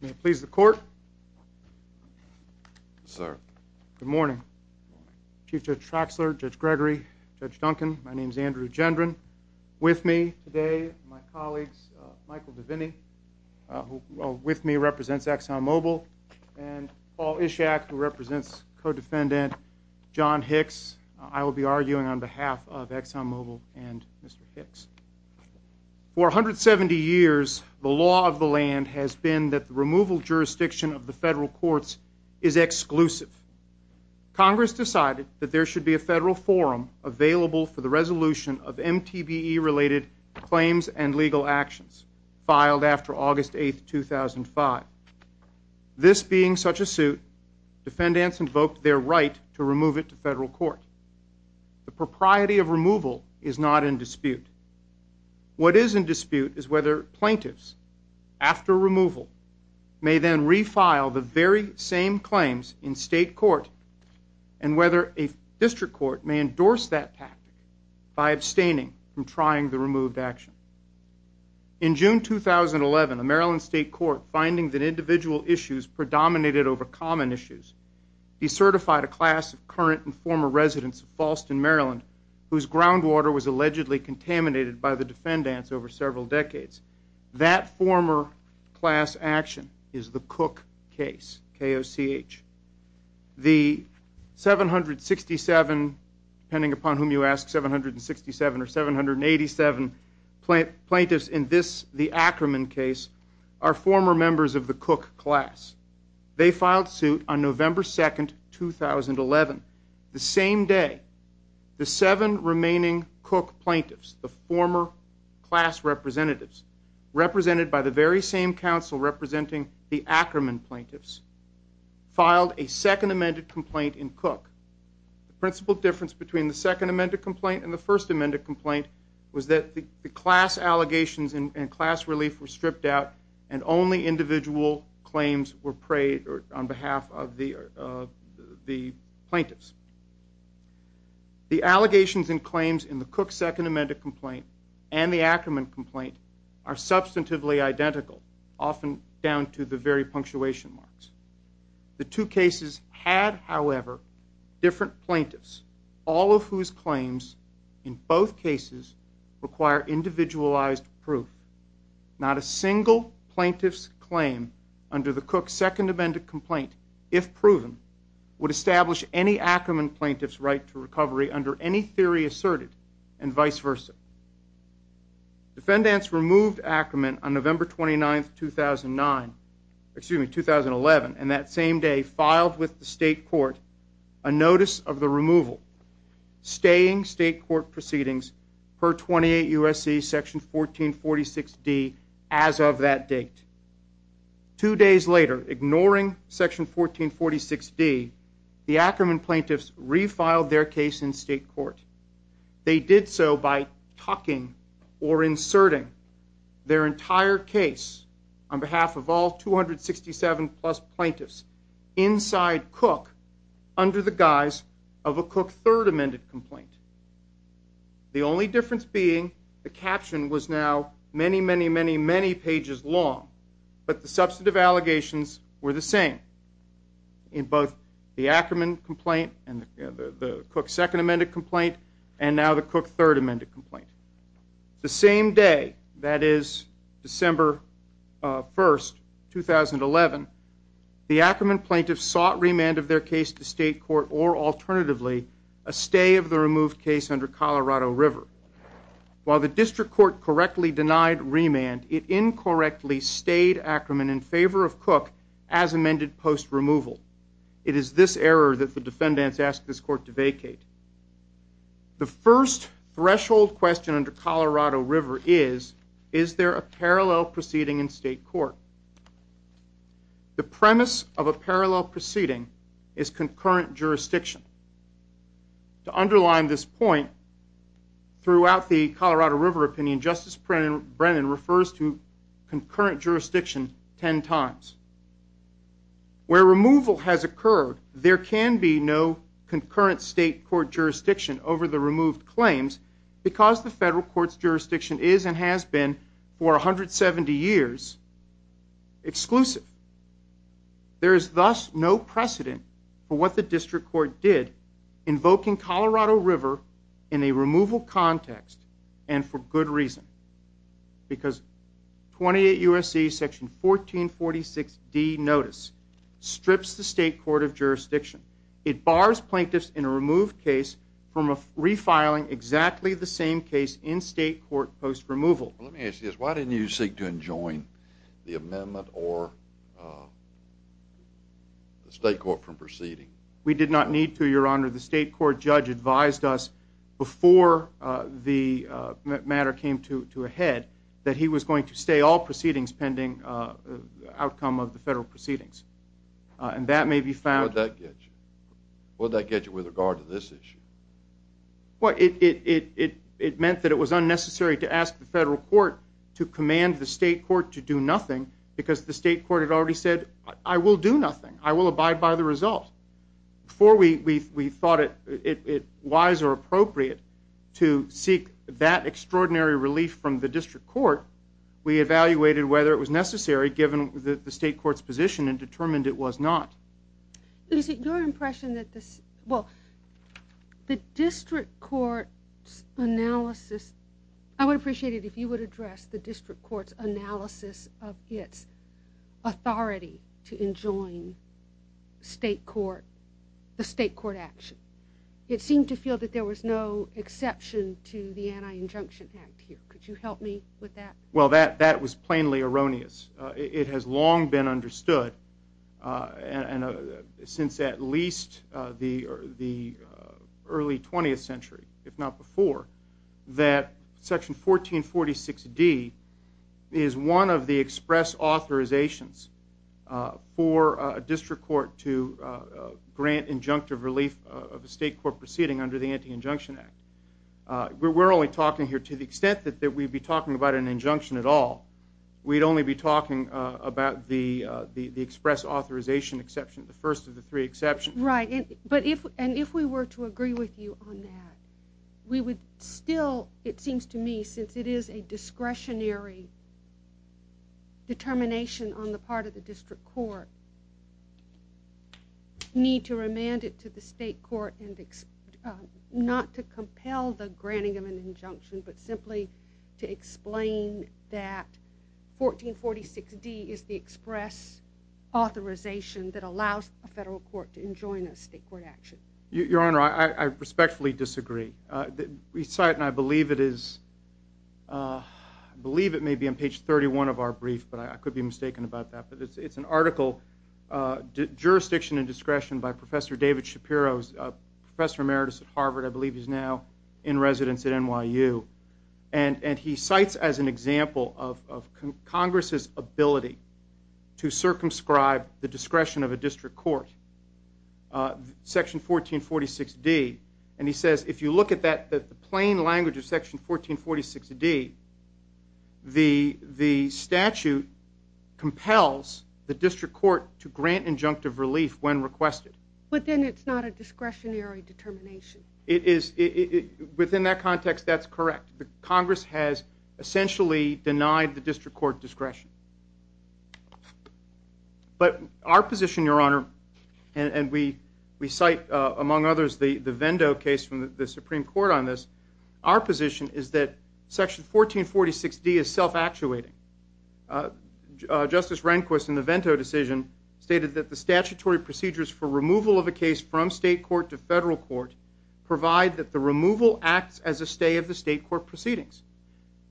May it please the court. Sir. Good morning. Chief Judge Traxler, Judge Gregory, Judge Duncan, my name is Andrew Gendron. With me today, my colleagues Michael DeVinney, who with me represents ExxonMobil, and Paul Ishak, who represents co-defendant John Hicks. I will be arguing on behalf of ExxonMobil and Mr. Hicks. For 170 years the law of the removal jurisdiction of the federal courts is exclusive. Congress decided that there should be a federal forum available for the resolution of MTBE related claims and legal actions filed after August 8th, 2005. This being such a suit, defendants invoked their right to remove it to federal court. The propriety of removal is not in dispute. What is in dispute is whether plaintiffs, after removal, may then refile the very same claims in state court, and whether a district court may endorse that pact by abstaining from trying the removed action. In June 2011, a Maryland State Court finding that individual issues predominated over common issues, decertified a class of current and former residents of Faulston, Maryland, whose groundwater was allegedly contaminated by the defendants over several decades. That former class action is the Cook case, K-O-C-H. The 767, depending upon whom you ask, 767 or 787 plaintiffs in this, the Ackerman case, are former members of the Cook class. They filed suit on November 2nd, 2011. The same day, the seven remaining Cook plaintiffs, the former class representatives, represented by the very same council representing the Ackerman plaintiffs, filed a second amended complaint in Cook. The principal difference between the second amended complaint and the first amended complaint was that the class allegations and class relief were on behalf of the plaintiffs. The allegations and claims in the Cook second amended complaint and the Ackerman complaint are substantively identical, often down to the very punctuation marks. The two cases had, however, different plaintiffs, all of whose claims in both cases require individualized proof. Not a Cook second amended complaint, if proven, would establish any Ackerman plaintiffs' right to recovery under any theory asserted, and vice versa. Defendants removed Ackerman on November 29th, 2009, excuse me, 2011, and that same day filed with the state court a notice of the removal, staying state court proceedings per 28 U.S.C. section 1446D as of that date. Two days later, ignoring section 1446D, the Ackerman plaintiffs refiled their case in state court. They did so by tucking or inserting their entire case on behalf of all 267-plus plaintiffs inside Cook under the guise of a Cook third amended complaint. The only difference being the caption was now many, many, many, many pages long, but the substantive allegations were the same in both the Ackerman complaint and the Cook second amended complaint, and now the Cook third amended complaint. The 1st, 2011, the Ackerman plaintiffs sought remand of their case to state court or alternatively a stay of the removed case under Colorado River. While the district court correctly denied remand, it incorrectly stayed Ackerman in favor of Cook as amended post removal. It is this error that the defendants asked this court to vacate. The first threshold question under Colorado River is, is there a parallel proceeding in state court? The premise of a parallel proceeding is concurrent jurisdiction. To underline this point, throughout the Colorado River opinion, Justice Brennan refers to concurrent jurisdiction ten times. Where removal has occurred, there can be no concurrent state court jurisdiction is and has been for 170 years exclusive. There is thus no precedent for what the district court did, invoking Colorado River in a removal context and for good reason. Because 28 U. S. C. Section 1446 D. Notice strips the state court of jurisdiction. It bars plaintiffs in a from refiling exactly the same case in state court post removal. Let me ask you this. Why didn't you seek to enjoin the amendment or uh, the state court from proceeding? We did not need to. Your honor, the state court judge advised us before the matter came to to ahead that he was going to stay all proceedings pending outcome of the federal proceedings. Uh, and that may be found that gets you. What did that get you with regard to this issue? What it it it it meant that it was unnecessary to ask the federal court to command the state court to do nothing because the state court had already said, I will do nothing. I will abide by the result before we thought it wise or appropriate to seek that extraordinary relief from the district court. We evaluated whether it was necessary, given the state court's position and is it your impression that this well, the district court analysis, I would appreciate it if you would address the district court's analysis of its authority to enjoin state court, the state court action. It seemed to feel that there was no exception to the anti injunction act here. Could you help me with that? Well, that that was since at least the early 20th century, if not before that section 14 46 d is one of the express authorizations for a district court to grant injunctive relief of a state court proceeding under the anti injunction act. We're only talking here to the extent that that we'd be talking about an injunction at all. We'd only be talking about the express authorization exception. The first of the three exceptions, right? But if and if we were to agree with you on that, we would still, it seems to me, since it is a discretionary determination on the part of the district court need to remand it to the state court and not to compel the granting of an injunction, but simply to explain that 14 46 d is the express authorization that allows a federal court to enjoin a state court action. Your Honor, I respectfully disagree. Uh, recite and I believe it is, uh, I believe it may be on page 31 of our brief, but I could be mistaken about that. But it's an article, uh, jurisdiction and discretion by Professor David Shapiro's professor emeritus at Harvard. I believe he's now in residence at N. Y. U. And and he cites as an example of Congress's ability to circumscribe the discretion of a district court, uh, section 14 46 d. And he says, if you look at that, that the plain language of Section 14 46 d the the statute compels the district court to grant injunctive relief when requested. But then it's not a discretionary determination. It is. Within that context, that's correct. Congress has essentially denied the district court discretion. But our position, Your Honor, and we we cite, among others, the Vendo case from the Supreme Court on this. Our position is that section 14 46 d is self actuating. Uh, Justice Rehnquist in the Vento decision stated that the statutory procedures for removal of a case from state court to federal court provide that the removal acts as a stay of the state court proceedings.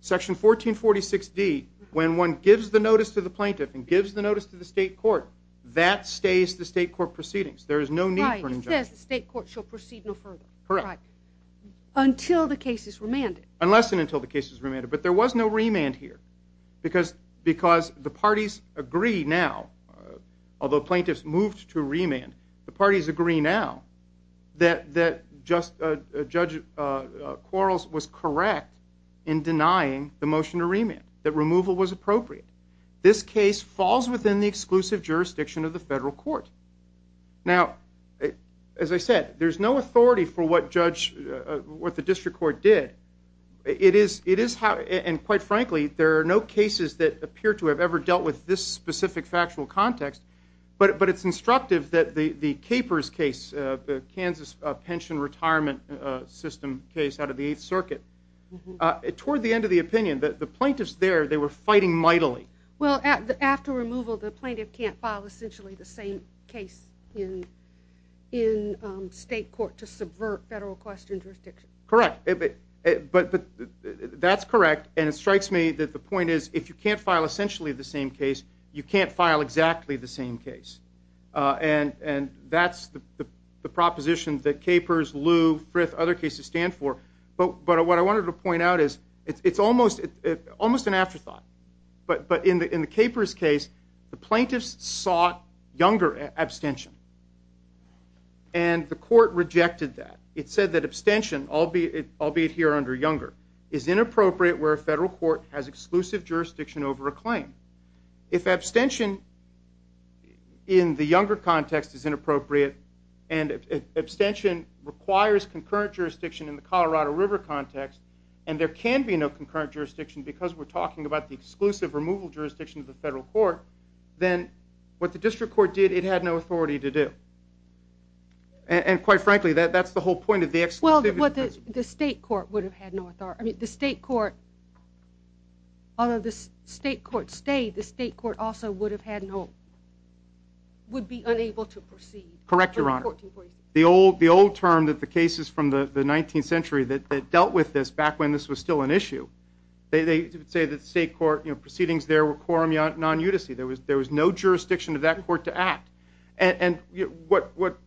Section 14 46 d. When one gives the notice to the plaintiff and gives the notice to the state court, that stays the state court proceedings. There is no need for injunction. State court shall proceed no further. Correct. Until the case is remanded. Unless and until the case is remanded. But there was no remand here because because the parties agree now, although plaintiffs moved to remand, the motion to remand that removal was appropriate. This case falls within the exclusive jurisdiction of the federal court. Now, as I said, there's no authority for what judge what the district court did. It is. It is. And quite frankly, there are no cases that appear to have ever dealt with this specific factual context. But but it's instructive that the the capers case, the Kansas pension retirement system case out of the Eighth Circuit toward the end of the opinion that the plaintiffs there they were fighting mightily. Well, after removal, the plaintiff can't file essentially the same case in in state court to subvert federal questions. Correct. But that's correct. And it strikes me that the point is, if you can't file essentially the same case, you can't file exactly the same case on. And that's the proposition that capers Lou Frith other cases stand for. But what I wanted to it's almost almost an afterthought. But but in the in the capers case, the plaintiffs sought younger abstention and the court rejected that. It said that abstention, albeit albeit here under younger, is inappropriate where a federal court has exclusive jurisdiction over a claim. If abstention in the younger context is inappropriate and abstention requires concurrent jurisdiction in the Colorado River context, and there can be no concurrent jurisdiction because we're talking about the exclusive removal jurisdiction of the federal court, then what the district court did, it had no authority to do. And quite frankly, that that's the whole point of the excluded. But the state court would have had no authority. I mean, the state court, although the state court stayed, the state court also would have had no would be unable to correct your honor. The old the old term that the cases from the 19th century that dealt with this back when this was still an issue, they say that state court proceedings there were quorum non UTC. There was there was no jurisdiction of that court to act. And what what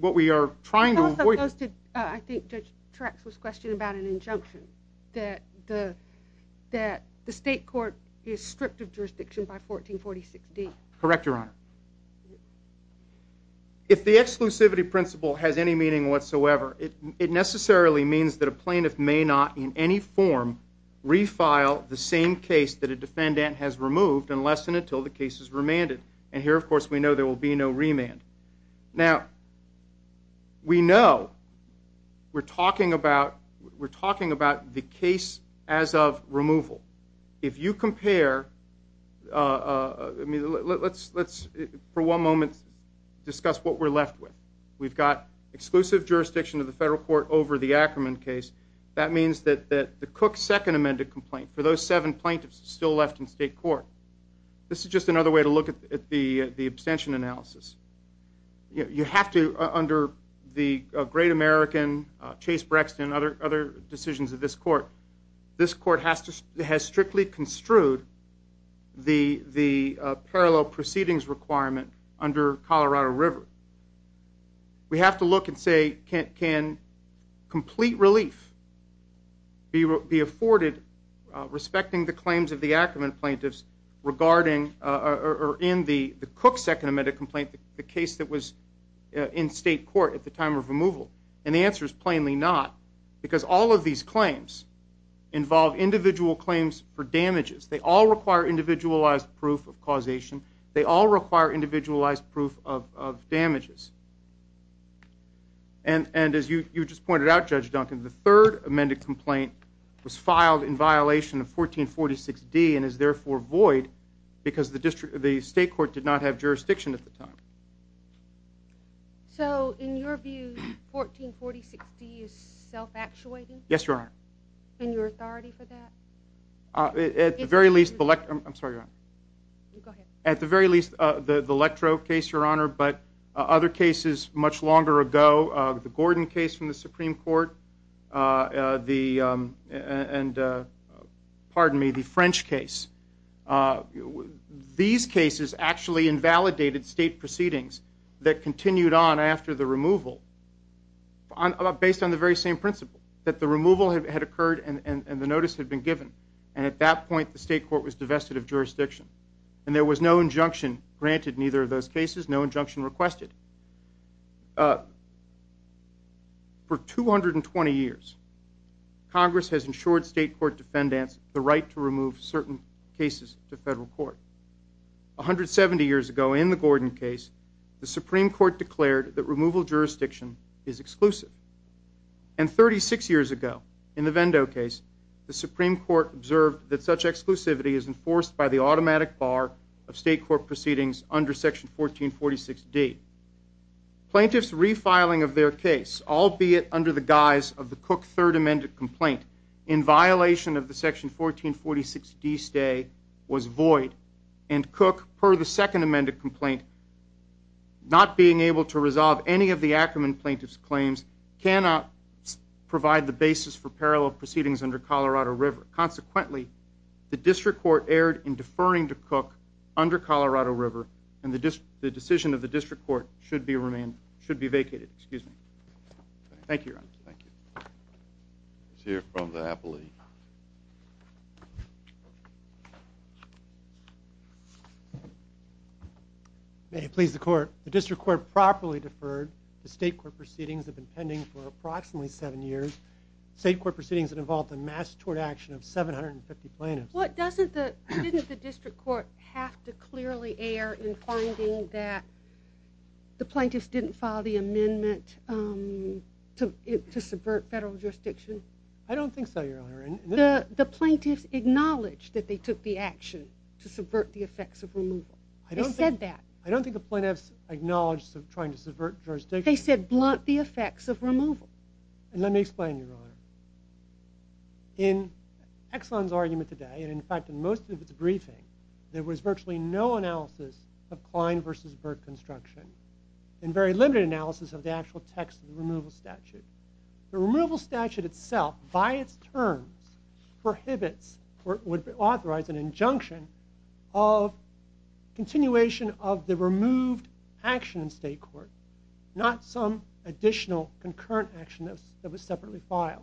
what we are trying to I think Judge tracks was questioned about an injunction that the that the state court is stripped of jurisdiction by 1446 D. Correct, Your Honor. If the exclusivity principle has any meaning whatsoever, it it necessarily means that a plaintiff may not in any form refile the same case that a defendant has removed unless and until the case is remanded. And here, of course, we know there will be no remand. Now we know we're talking about. We're talking about the case as of removal. If you compare, uh, I mean, let's let's for one moment discuss what we're left with. We've got exclusive jurisdiction of the federal court over the Ackerman case. That means that that the Cook second amended complaint for those seven plaintiffs still left in state court. This is just another way to look at the abstention analysis. You have to under the great American Chase Brexton, other other strictly construed the the parallel proceedings requirement under Colorado River. We have to look and say, can complete relief be afforded respecting the claims of the Ackerman plaintiffs regarding or in the Cook second amended complaint, the case that was in state court at the time of removal. And the answer is plainly not because all of these claims involve individual claims for damages. They all require individualized proof of causation. They all require individualized proof of of damages. And and as you just pointed out, Judge Duncan, the third amended complaint was filed in violation of 14 46 D and is therefore void because the district of the state court did not have jurisdiction at the time. So in your view, 14 46 D is self actuating. Yes, you are. And your authority for that at the very least, I'm sorry. At the very least, the electro case, Your Honor. But other cases much longer ago, the Gordon case from the Supreme Court, the and pardon me, the French case. Uh, these cases actually invalidated state proceedings that continued on after the removal based on the very same principle that the removal had occurred and the notice had been given. And at that point, the state court was divested of jurisdiction and there was no injunction granted. Neither of those cases, no injunction requested. Uh, for 220 years, Congress has ensured state court defendants the right to remove certain cases to federal court. 170 years ago in the Gordon case, the is exclusive. And 36 years ago in the Vendo case, the Supreme Court observed that such exclusivity is enforced by the automatic bar of state court proceedings under Section 14 46 D. Plaintiffs refiling of their case, albeit under the guise of the cook third amended complaint in violation of the section 14 46 D stay was void and cook per the second amended complaint, not being able to resolve any of the Ackerman plaintiffs claims cannot provide the basis for parallel proceedings under Colorado River. Consequently, the district court erred in deferring to cook under Colorado River, and the decision of the district court should be remain should be vacated. Excuse me. Thank you. Here from the happily may please the court. The district court properly deferred. The state court proceedings have been pending for approximately seven years. State court proceedings involved a mass toward action of 750 plaintiffs. What doesn't the district court have to clearly air in finding that the plaintiffs didn't follow the amendment, um, to subvert federal jurisdiction? I don't think so. Your honor, the plaintiffs acknowledged that they took the action to subvert the effects of removal. I don't get that. I don't think the plaintiffs acknowledged of trying to subvert jurisdiction. They said blunt the effects of removal. And let me explain your honor in excellence argument today. And in fact, in most of its briefing, there was virtually no analysis of Klein versus Burke construction and very limited analysis of the actual text of removal statute. The removal statute itself by its terms prohibits or would authorize an injunction off continuation of the removed action in state court, not some additional concurrent action that was separately filed.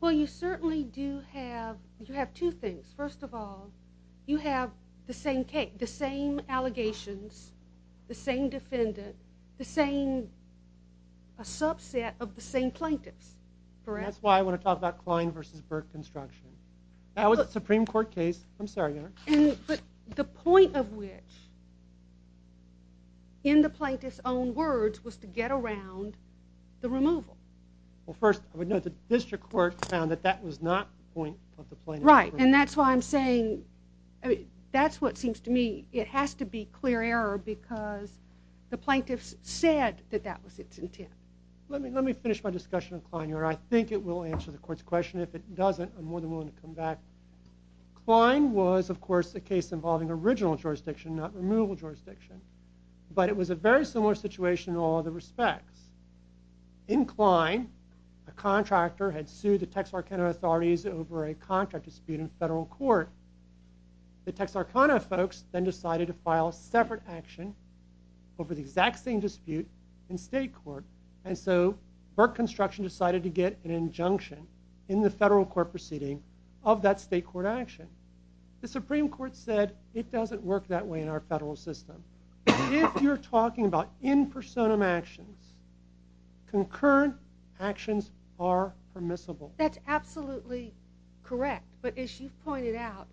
Well, you certainly do have. You have two things. First of all, you have the same cake, the same allegations, the same defendant, the same a subset of the same plaintiffs. That's why I want to talk about Klein versus Burke construction. I was the Supreme Court case. I'm sorry. But the point of which in the plaintiff's own words was to get around the removal. Well, first, I would know the district court found that that was not point of the plane. Right. And that's why I'm saying that's what seems to me. It has to be clear error because the plaintiffs said that that was its intent. Let me let me finish my discussion of Klein. I think it will answer the court's question. If it doesn't, I'm more than willing to come back. Klein was, of course, a case involving original jurisdiction, not removal jurisdiction. But it was a very similar situation in all other respects. In Klein, a contractor had sued the Texarkana authorities over a contract dispute in federal court. The Texarkana folks then decided to file a separate action over the exact same dispute in state court. And so Burke construction decided to get an injunction in the federal court proceeding of that state court action. The Supreme Court said it doesn't work that way in our federal system. If you're talking about in persona actions, concurrent actions are permissible. That's absolutely correct. But as you pointed out,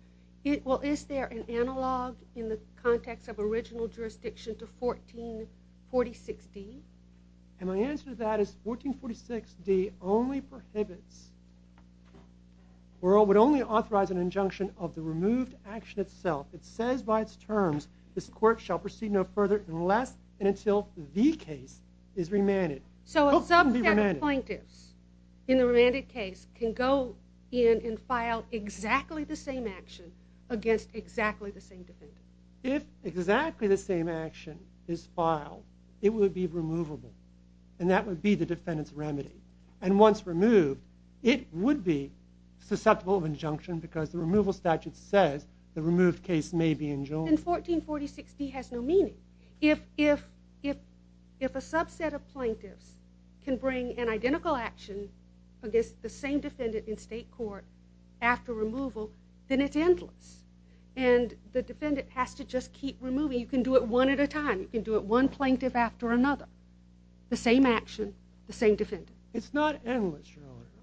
it well, is there an analog in the context of original jurisdiction to 14 46 d? And my answer to that is 14 46 d only prohibits world would only authorize an injunction of the removed action itself. It says by its terms, this court shall proceed no further unless and until the case is exactly the same action against exactly the same defendant. If exactly the same action is filed, it would be removable, and that would be the defendant's remedy. And once removed, it would be susceptible of injunction because the removal statute says the removed case may be enjoined in 14 46. He has no meaning. If if if if a subset of plaintiffs can bring an identical action against the same defendant in state court after removal, then it's endless. And the defendant has to just keep removing. You can do it one at a time. You can do it one plaintiff after another. The same action, the same defendant. It's not endless.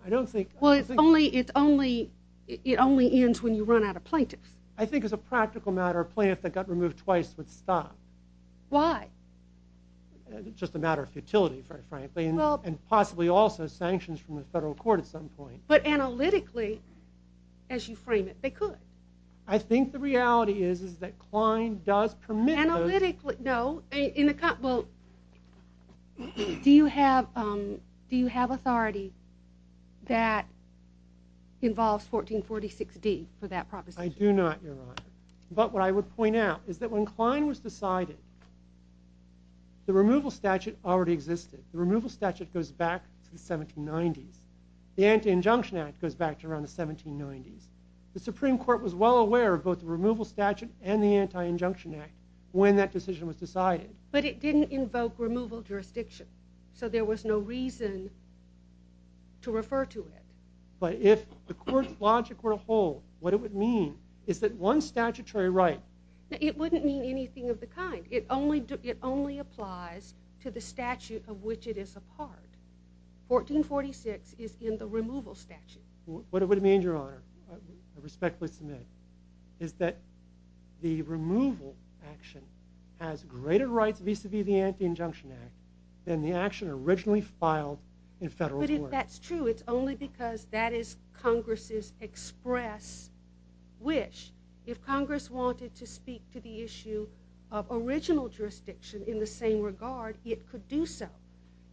I don't think well, it's only it's only it only ends when you run out of plaintiffs, I think is a practical matter. Plaintiff that got removed twice would stop. Why? Just a matter of futility, frankly, and possibly also sanctions from the federal court at some point. But analytically, as you frame it, they could. I think the reality is, is that Klein does permit analytically. No, in the cup. Well, do you have? Um, do you have authority that involves 14 46 d for that proposition? I do not. But what I would point out is that when Klein was decided the removal statute already existed. Removal statute goes back to the 17 nineties. The Anti Injunction Act goes back to around the 17 nineties. The Supreme Court was well aware of both the removal statute and the Anti Injunction Act when that decision was decided. But it didn't invoke removal jurisdiction. So there was no reason to refer to it. But if the court's logic were a whole, what it would mean is that one statutory right, it wouldn't mean anything of the kind. It only it only applies to the statute of which it is apart. 14 46 is in the removal statute. What it would mean, Your Honor, respectfully submit is that the removal action has greater rights vis a vis the Anti Injunction Act than the action originally filed in federal. But if that's true, it's only because that is Congress's express wish. If Congress wanted to speak to the issue of original jurisdiction in the same regard, it could do so.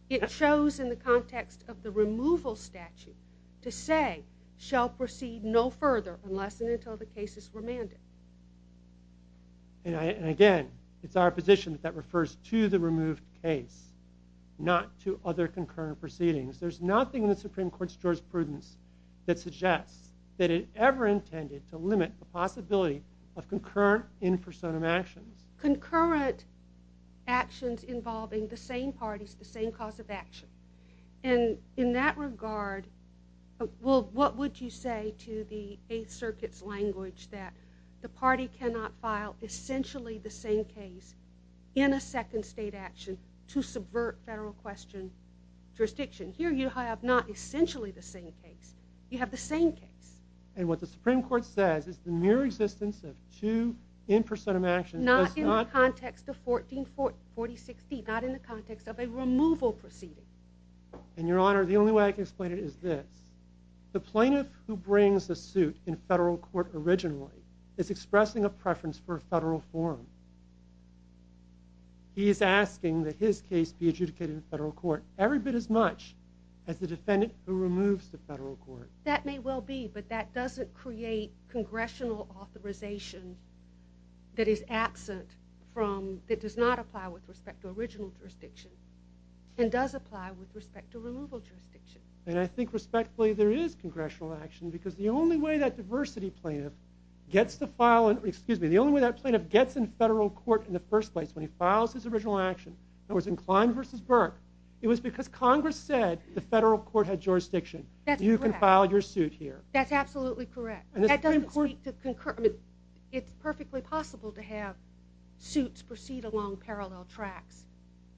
It shows in the context of the removal statute to say, shall proceed no further unless and until the case is remanded. And again, it's our position that refers to the removed case, not to other concurrent proceedings. There's nothing in the Supreme Court's jurisprudence that suggests that it ever intended to limit the possibility of concurrent in actions involving the same parties, the same cause of action. And in that regard, well, what would you say to the Eighth Circuit's language that the party cannot file essentially the same case in a second state action to subvert federal question jurisdiction? Here you have not essentially the same case. You have the same case. And what the Supreme Court says is the mere existence of you in percent of actions, not in the context of 1440 60, not in the context of a removal proceeding. And, Your Honor, the only way I can explain it is this. The plaintiff who brings a suit in federal court originally is expressing a preference for federal form. He is asking that his case be adjudicated in federal court every bit as much as the defendant who removes the federal court. That may well be, but that doesn't create congressional authorization that is absent from, that does not apply with respect to original jurisdiction and does apply with respect to removal jurisdiction. And I think respectfully there is congressional action because the only way that diversity plaintiff gets to file, excuse me, the only way that plaintiff gets in federal court in the first place, when he files his original action, that was in Klein versus Burke, it was because Congress said the federal court had jurisdiction. You can file your suit here. That's absolutely correct. That doesn't speak to concur. I mean, it's perfectly possible to have suits proceed along parallel tracks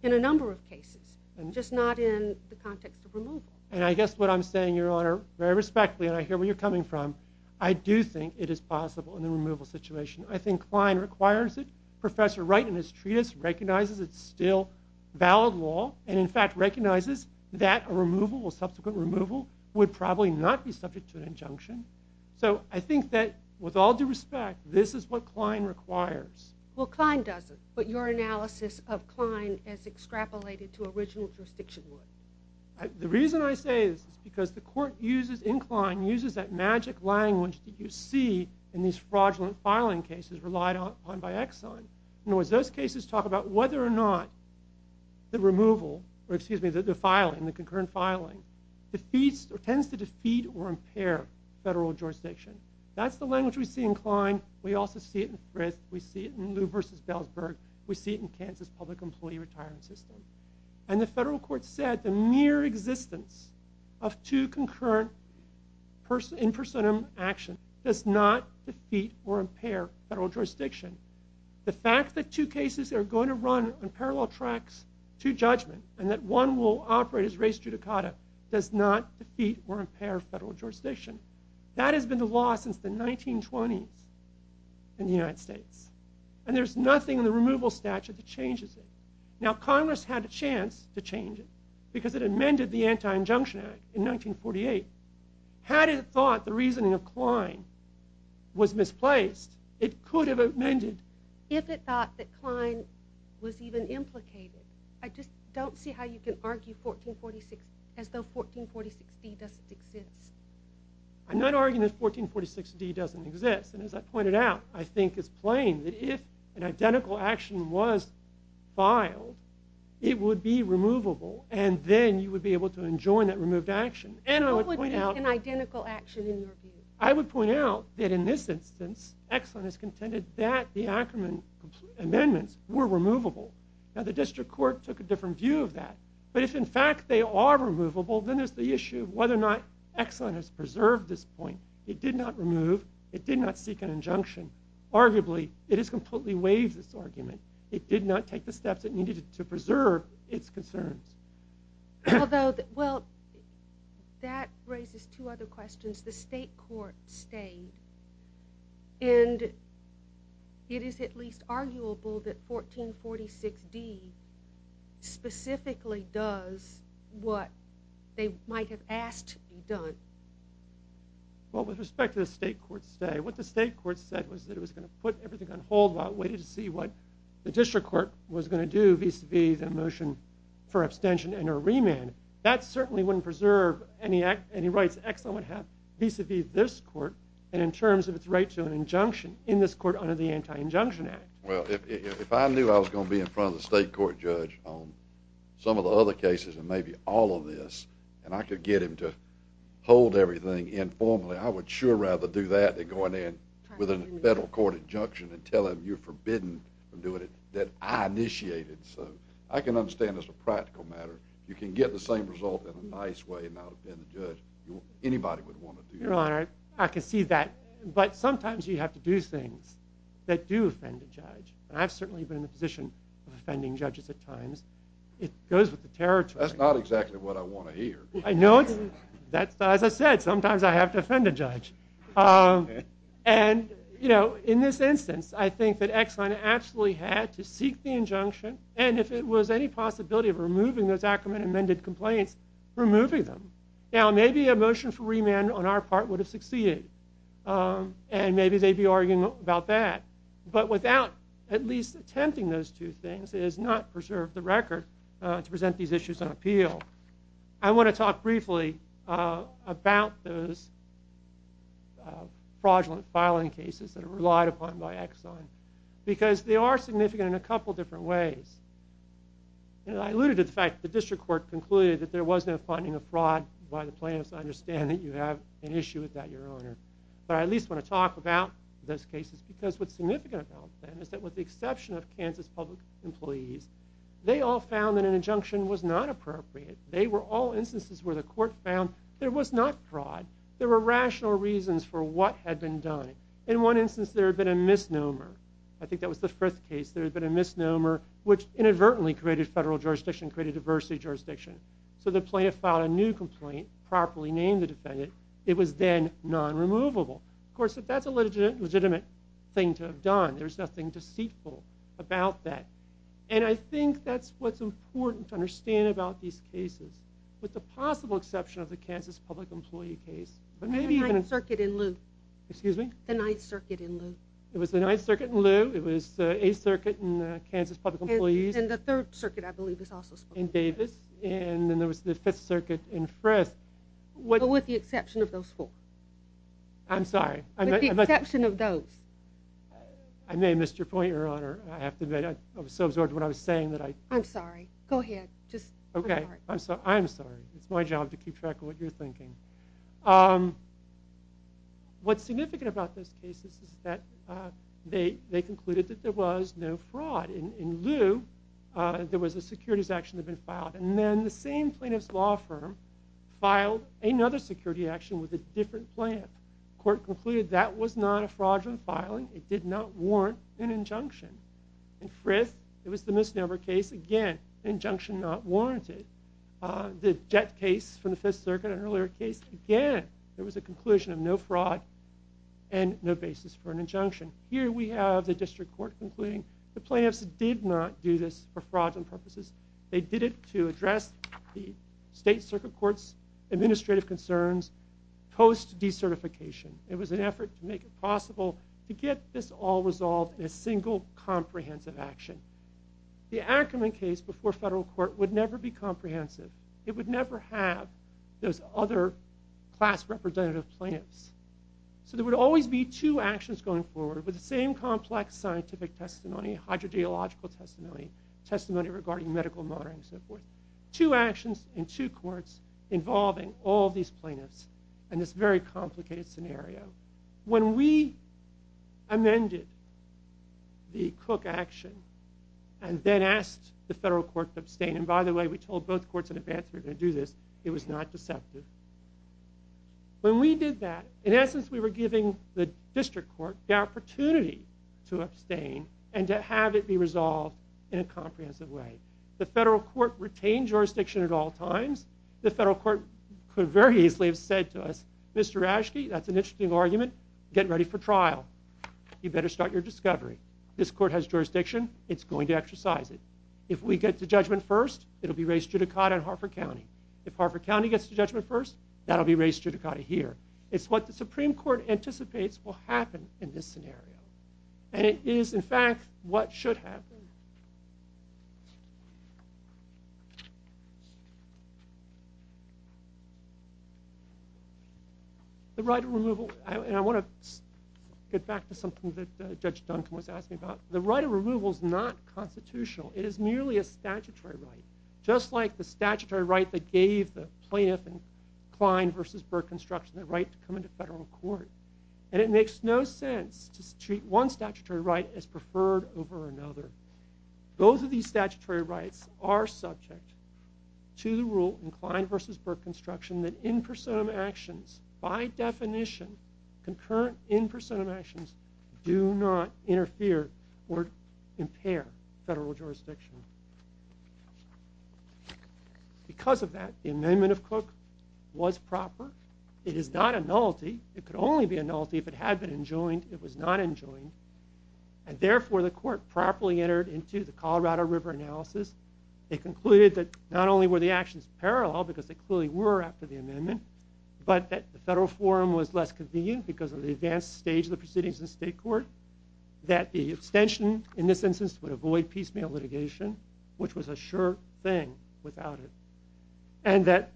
in a number of cases, just not in the context of removal. And I guess what I'm saying, Your Honor, very respectfully, and I hear where you're coming from, I do think it is possible in the removal situation. I think Klein requires it. Professor Wright in his treatise recognizes it's still valid law and, in fact, recognizes that a removal, a subsequent removal, would probably not be subject to an injunction. So I think that, with all due respect, this is what Klein requires. Well, Klein doesn't, but your analysis of Klein as extrapolated to original jurisdiction would. The reason I say this is because the court uses, in Klein, uses that magic language that you see in these fraudulent filing cases relied on by Exxon. And as those cases talk about whether or not the removal, or excuse me, the filing, the concurrent filing, tends to defeat or impair federal jurisdiction. That's the language we see in Klein. We also see it in Frist. We see it in Lew v. Balesburg. We see it in Kansas Public Employee Retirement System. And the federal court said the mere existence of two concurrent in personam action does not defeat or impair federal jurisdiction. The fact that two cases are going to run on parallel tracks to judgment, and that one will operate as res judicata, does not defeat or impair federal jurisdiction. That has been the law since the 1920s in the United States. And there's nothing in the removal statute that changes it. Now Congress had a chance to change it because it amended the Anti-Injunction Act in 1948. Had it thought the reasoning of Klein was misplaced, it could have amended. If it thought that Klein was even implicated. I just don't see how you can argue 1446 as though 1446d doesn't exist. I'm not arguing that 1446d doesn't exist. And as I pointed out, I think it's plain that if an identical action was filed, it would be removable. And then you would be able to enjoin that removed action. And I would point out an identical action. I would point out that in this instance, Exxon has said they're removable. Now the district court took a different view of that. But if in fact they are removable, then there's the issue of whether or not Exxon has preserved this point. It did not remove. It did not seek an injunction. Arguably, it has completely waived this argument. It did not take the steps it needed to preserve its concerns. Although, well, that raises two other questions. The state court stayed. And it is at least arguable that 1446d specifically does what they might have asked to be done. Well, with respect to the state court stay, what the state court said was that it was going to put everything on hold while it waited to see what the district court was going to do vis-a-vis the motion for abstention and a remand. That certainly wouldn't preserve any rights Exxon would have vis-a-vis this court and in terms of its right to an injunction in this court under the Anti-Injunction Act. Well, if I knew I was going to be in front of the state court judge on some of the other cases and maybe all of this, and I could get him to hold everything informally, I would sure rather do that than go in there with a federal court injunction and tell him you're forbidden from doing it that I initiated. So I can understand as a practical matter, you can get the same result in a nice way without offending the judge. Anybody would want to do that. Your Honor, I can see that. But sometimes you have to do things that do offend a judge. And I've certainly been in the position of offending judges at times. It goes with the territory. That's not exactly what I want to hear. I know. As I said, sometimes I have to offend a judge. And, you know, in this instance, I think that Exxon absolutely had to seek the injunction. And if it was any possibility of removing those Ackerman amended complaints, removing them. Now, maybe a motion for remand on our part would have succeeded. And maybe they'd be arguing about that. But without at least attempting those two things, it has not preserved the record to present these issues on appeal. I want to talk briefly about those fraudulent filing cases that are relied upon by Exxon. Because they are significant in a couple different ways. And I alluded to the fact that the district court concluded that there was no finding of fraud by the plaintiffs. I understand that you have an issue with that, Your Honor. But I at least want to talk about those cases. Because what's significant about them is that with the exception of Kansas public employees, they all found that an injunction was not appropriate. They were all instances where the court found there was not fraud. There were rational reasons for what had been done. In one instance, there had been a misnomer. I think that was the first case. There had been a misnomer, which inadvertently created federal jurisdiction, created diversity jurisdiction. So the plaintiff filed a new complaint, properly named the defendant. It was then non-removable. Of course, if that's a legitimate thing to have done, there's nothing deceitful about that. And I think that's what's important to understand about these cases. With the possible exception of the 9th Circuit in Loo. It was the 9th Circuit in Loo. It was 8th Circuit in Kansas public employees. And the 3rd Circuit, I believe, was also spoken of. In Davis. And then there was the 5th Circuit in Frist. But with the exception of those four. I'm sorry. With the exception of those. I may have missed your point, Your Honor. I have to admit, I was so absorbed in what I was saying that I... I'm sorry. Go ahead. Okay. I'm sorry. I'm sorry. It's my job to keep track of what you're thinking. What's significant about those cases is that they concluded that there was no fraud. In Loo, there was a securities action that had been filed. And then the same plaintiff's law firm filed another security action with a different plan. The court concluded that was not a fraudulent filing. It did not warrant an injunction. In Frist, it was the misnomer case. Again, injunction not warranted. The Jett case from the 5th Circuit was a fraud and no basis for an injunction. Here we have the district court concluding the plaintiffs did not do this for fraudulent purposes. They did it to address the State Circuit Court's administrative concerns post decertification. It was an effort to make it possible to get this all resolved in a single comprehensive action. The Ackerman case before federal court would never be So there would always be two actions going forward with the same complex scientific testimony, hydrogeological testimony, testimony regarding medical monitoring and so forth. Two actions in two courts involving all these plaintiffs in this very complicated scenario. When we amended the Cook action and then asked the federal court to abstain, and by the way, we told both courts in advance we were going to do this, it was not deceptive. When we did that, in essence, we were giving the district court the opportunity to abstain and to have it be resolved in a comprehensive way. The federal court retained jurisdiction at all times. The federal court could very easily have said to us, Mr. Raschke, that's an interesting argument, get ready for trial. You better start your discovery. This court has jurisdiction, it's going to exercise it. If we get to judgment first, it'll be raised judicata in Hartford County. If Hartford County gets to judgment first, that will be raised judicata here. It's what the Supreme Court anticipates will happen in this scenario. And it is, in fact, what should happen. The right of removal, and I want to get back to something that Judge Duncan was asking about, the right of removal is not constitutional. It is merely a statutory right, just like the statutory right that gave the plaintiff in Klein versus Burke construction the right to come into federal court. And it makes no sense to treat one statutory right as preferred over another. Both of these statutory rights are subject to the rule in Klein versus Burke construction that in personam actions, by definition, concurrent in personam actions do not Because of that, the amendment of Cook was proper. It is not a nullity. It could only be a nullity if it had been enjoined. It was not enjoined, and therefore the court properly entered into the Colorado River analysis. They concluded that not only were the actions parallel, because they clearly were after the amendment, but that the federal forum was less convenient because of the advanced stage of the proceedings in state court, that the abstention in this litigation, which was a sure thing without it, and that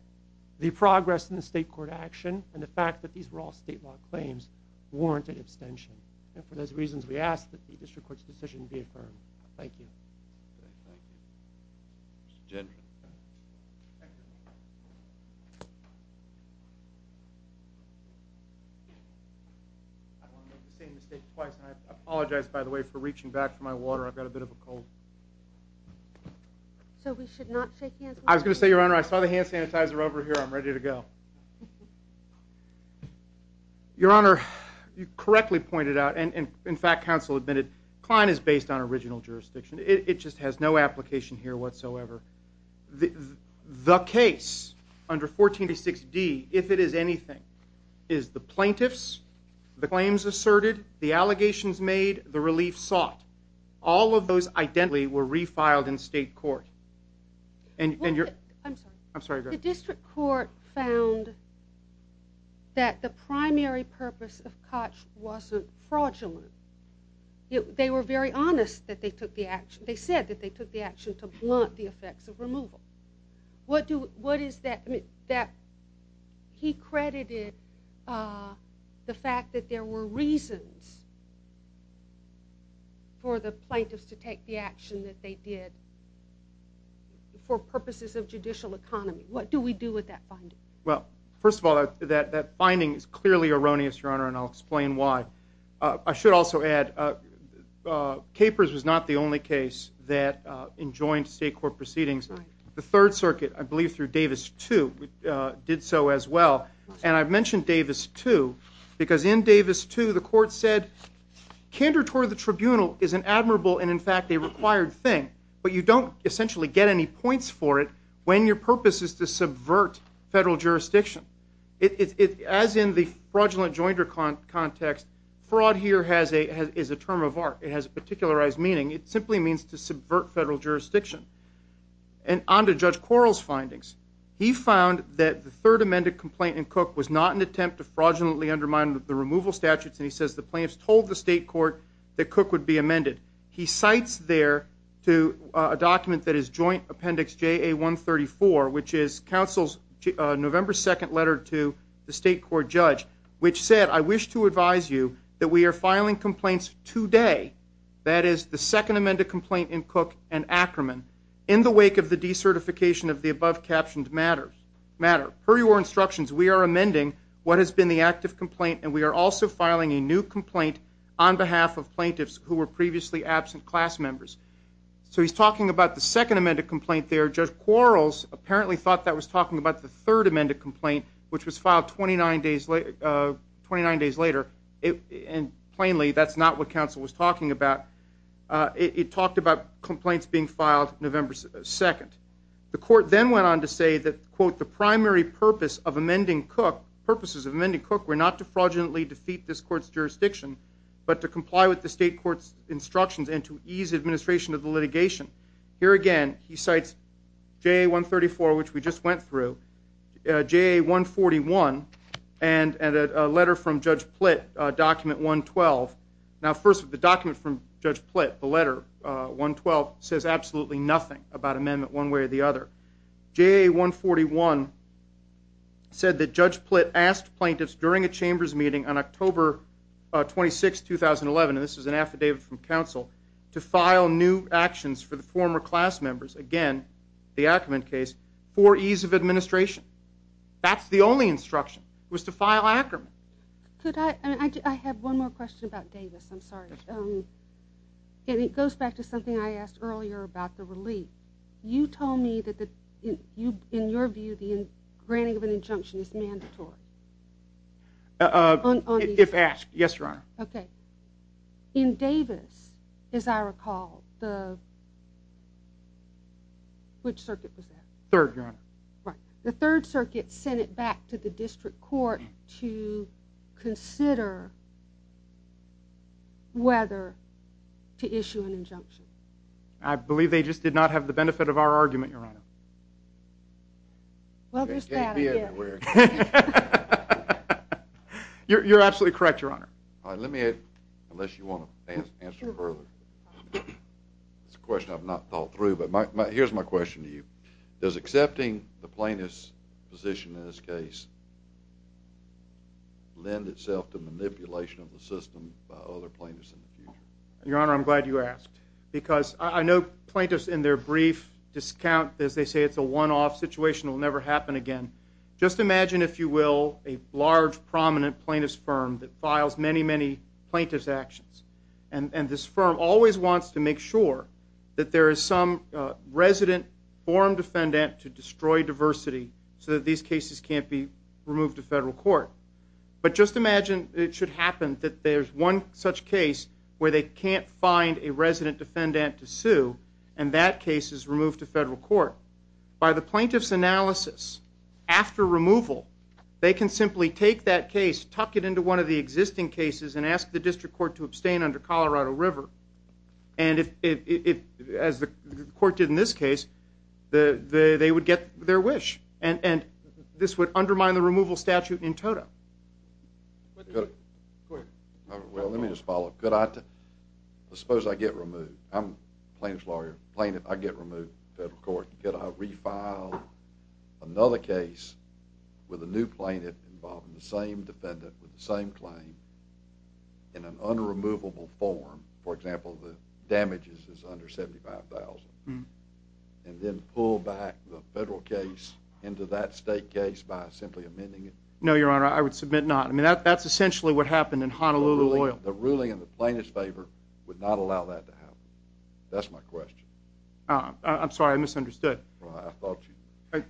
the progress in the state court action and the fact that these were all state law claims warranted abstention. And for those reasons, we ask that the district court's decision be affirmed. Thank you. Thank you. Mr. Gendron. I want to make the same mistake twice, and I apologize, by the way, for reaching back for my water. I've got a bit of a cold. So we should not shake hands? I was gonna say, Your Honor, I saw the hand sanitizer over here. I'm ready to go. Your Honor, you correctly pointed out, and in fact, counsel admitted Klein is based on original jurisdiction. It just has no application here whatsoever. The case under 14 to 6 D, if it is anything, is the plaintiffs. The claims asserted the allegations made the relief sought. All of those identity were refiled in state court, and you're I'm sorry. I'm sorry. The district court found that the primary purpose of Koch wasn't fraudulent. They were very honest that they took the action. They said that they took the action to blunt the effects of removal. What do what is that that he credited? Uh, the fact that there were reasons for the plaintiffs to take the action that they did for purposes of judicial economy. What do we do with that? Well, first of all, that that finding is clearly erroneous, Your Honor, and I'll explain why. I should also add capers was not the only case that enjoined state court proceedings. The Third Circuit, I believe through Davis to did so as well. And I've mentioned Davis to because in Davis to the court said candor toward the tribunal is an admirable and, in fact, a required thing. But you don't essentially get any points for it when your purpose is to subvert federal jurisdiction. It's as in the fraudulent joined her con context. Fraud here has a is a term of art. It has a particularized meaning. It simply means to subvert federal jurisdiction. And under Judge Quarles findings, he found that the third amended complaint in Cook was not an attempt to fraudulently undermine the removal statutes. And he says the plaintiffs told the state court that Cook would be amended. He cites there to a document that his joint appendix J A 1 34, which is Council's November 2nd letter to the state court judge, which said, I wish to advise you that we're filing complaints today. That is the second amended complaint in Cook and Ackerman in the wake of the decertification of the above captioned matter matter. Per your instructions, we are amending what has been the active complaint, and we are also filing a new complaint on behalf of plaintiffs who were previously absent class members. So he's talking about the second amended complaint there. Judge Quarles apparently thought that was talking about the third amended complaint, which was filed 29 days late. Uh, 29 days later. And plainly, that's not what council was talking about. It talked about complaints being filed November 2nd. The court then went on to say that, quote, the primary purpose of amending Cook purposes of many cook were not to fraudulently defeat this court's jurisdiction, but to comply with the state court's instructions and to ease administration of the litigation. Here again, he cites J 1 34, which we just went through J 1 41 and a letter from Judge Plitt Document 1 12. Now, first of the 1 12 says absolutely nothing about amendment one way or the other. J 1 41 said that Judge Plitt asked plaintiffs during a chamber's meeting on October 26 2011. This is an affidavit from council to file new actions for the former class members again. The Ackerman case for ease of administration. That's the only instruction was to file Ackerman. Could I? I have one more question about Davis. I'm sorry. Um, it goes back to something I asked earlier about the relief. You told me that in your view, the granting of an injunction is mandatory. Uh, if asked. Yes, Your Honor. Okay. In Davis, as I recall, the which circuit was that third? Right. The Third Circuit sent it back to the district court to consider whether to issue an injunction. I believe they just did not have the benefit of our argument, Your Honor. Well, there's that you're absolutely correct, Your Honor. Let me unless you want to answer further. It's a question I've not thought through. But here's my question to you. Does accepting the plaintiff's position in this case lend itself to manipulation of the system by other plaintiffs in the future? Your Honor, I'm glad you asked, because I know plaintiffs in their brief discount, as they say, it's a one off situation will never happen again. Just imagine, if you will, a large, prominent plaintiffs firm that files many, many plaintiffs actions. And this firm always wants to make sure that there is some resident forum defendant to destroy diversity so that these cases can't be removed to federal court. But just imagine it should happen that there's one such case where they can't find a resident defendant to sue, and that case is removed to federal court by the plaintiff's analysis. After removal, they can simply take that case, tuck it into one of the existing cases and ask the district court to abstain under Colorado River. And if, as the court did in this case, the they would get their wish and this would undermine the removal statute in total. But good. Well, let me just follow. Could I suppose I get removed? I'm plaintiff's lawyer plaintiff. I get removed federal court. Could I refile another case with a new plaintiff involving the same defendant with the same claim in an unremovable form? For example, the damages is under 75,000 and then pull back the federal case into that state case by simply amending it. No, your honor, I would submit not. I mean, that's essentially what happened in Honolulu oil. The ruling in the plaintiff's favor would not allow that to happen. That's my question. I'm sorry. I misunderstood. I thought.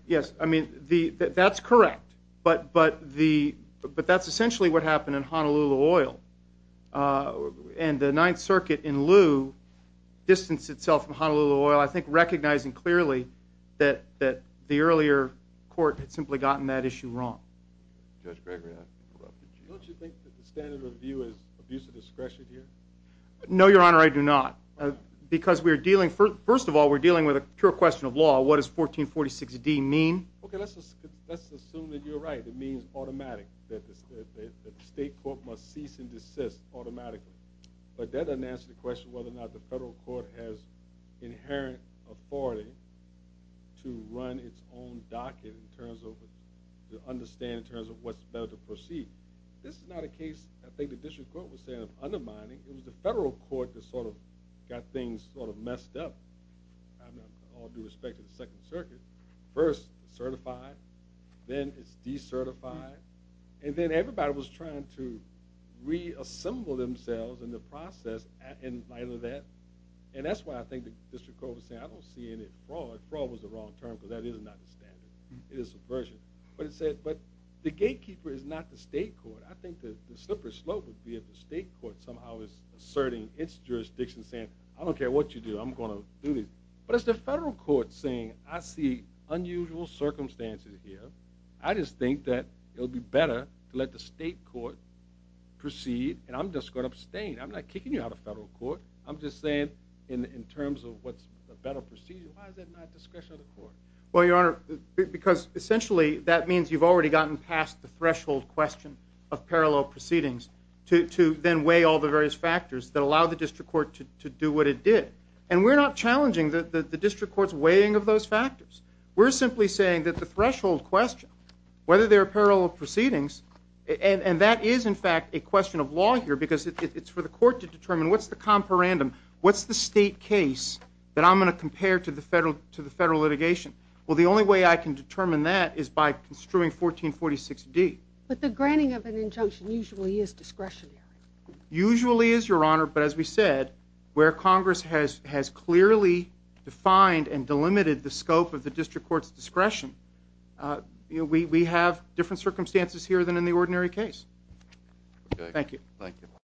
Yes, I mean, that's correct. But but the but that's essentially what happened in Honolulu oil. Uh, and the Ninth Circuit in lieu distance itself from Honolulu oil, I think, recognizing clearly that that the earlier court had simply gotten that issue wrong. Judge Gregory. Don't you think that the standard of view is abuse of discretion here? No, your honor, I do not. Because we're dealing first. First of all, we're dealing with a pure question of law. What is 14 46 D mean? Okay, let's let's assume that you're right. It means automatic that the state court must cease and desist automatically. But authority to run its own docket in terms of the understand in terms of what's better to proceed. This is not a case. I think the district court was saying undermining. It was the federal court that sort of got things sort of messed up all due respect to the Second Circuit first certified. Then it's decertified. And then everybody was trying to reassemble themselves in the I don't see any fraud. Fraud was the wrong term, because that is not the standard. It is a version, but it said, But the gatekeeper is not the state court. I think the slipper slope would be at the state court somehow is asserting its jurisdiction, saying, I don't care what you do. I'm gonna do this. But it's the federal court saying I see unusual circumstances here. I just think that it would be better to let the state court proceed. And I'm just gonna abstain. I'm not kicking you out of federal court. I'm just saying in in terms of what's a better procedure. Why is that not discretion of the court? Well, your honor, because essentially, that means you've already gotten past the threshold question of parallel proceedings to then weigh all the various factors that allow the district court to do what it did. And we're not challenging the district court's weighing of those factors. We're simply saying that the threshold question whether there are parallel proceedings, and that is, in fact, a question of law here, because it's for the court to determine what's the comparandum? What's the state case that I'm gonna compare to the federal to the federal litigation? Well, the only way I can determine that is by construing 14 46 D. But the granting of an injunction usually is discretion. Usually is your honor. But as we said, where Congress has has clearly defined and delimited the scope of the district court's discretion, uh, we have different circumstances here than in the ordinary case. Thank you. Thank you.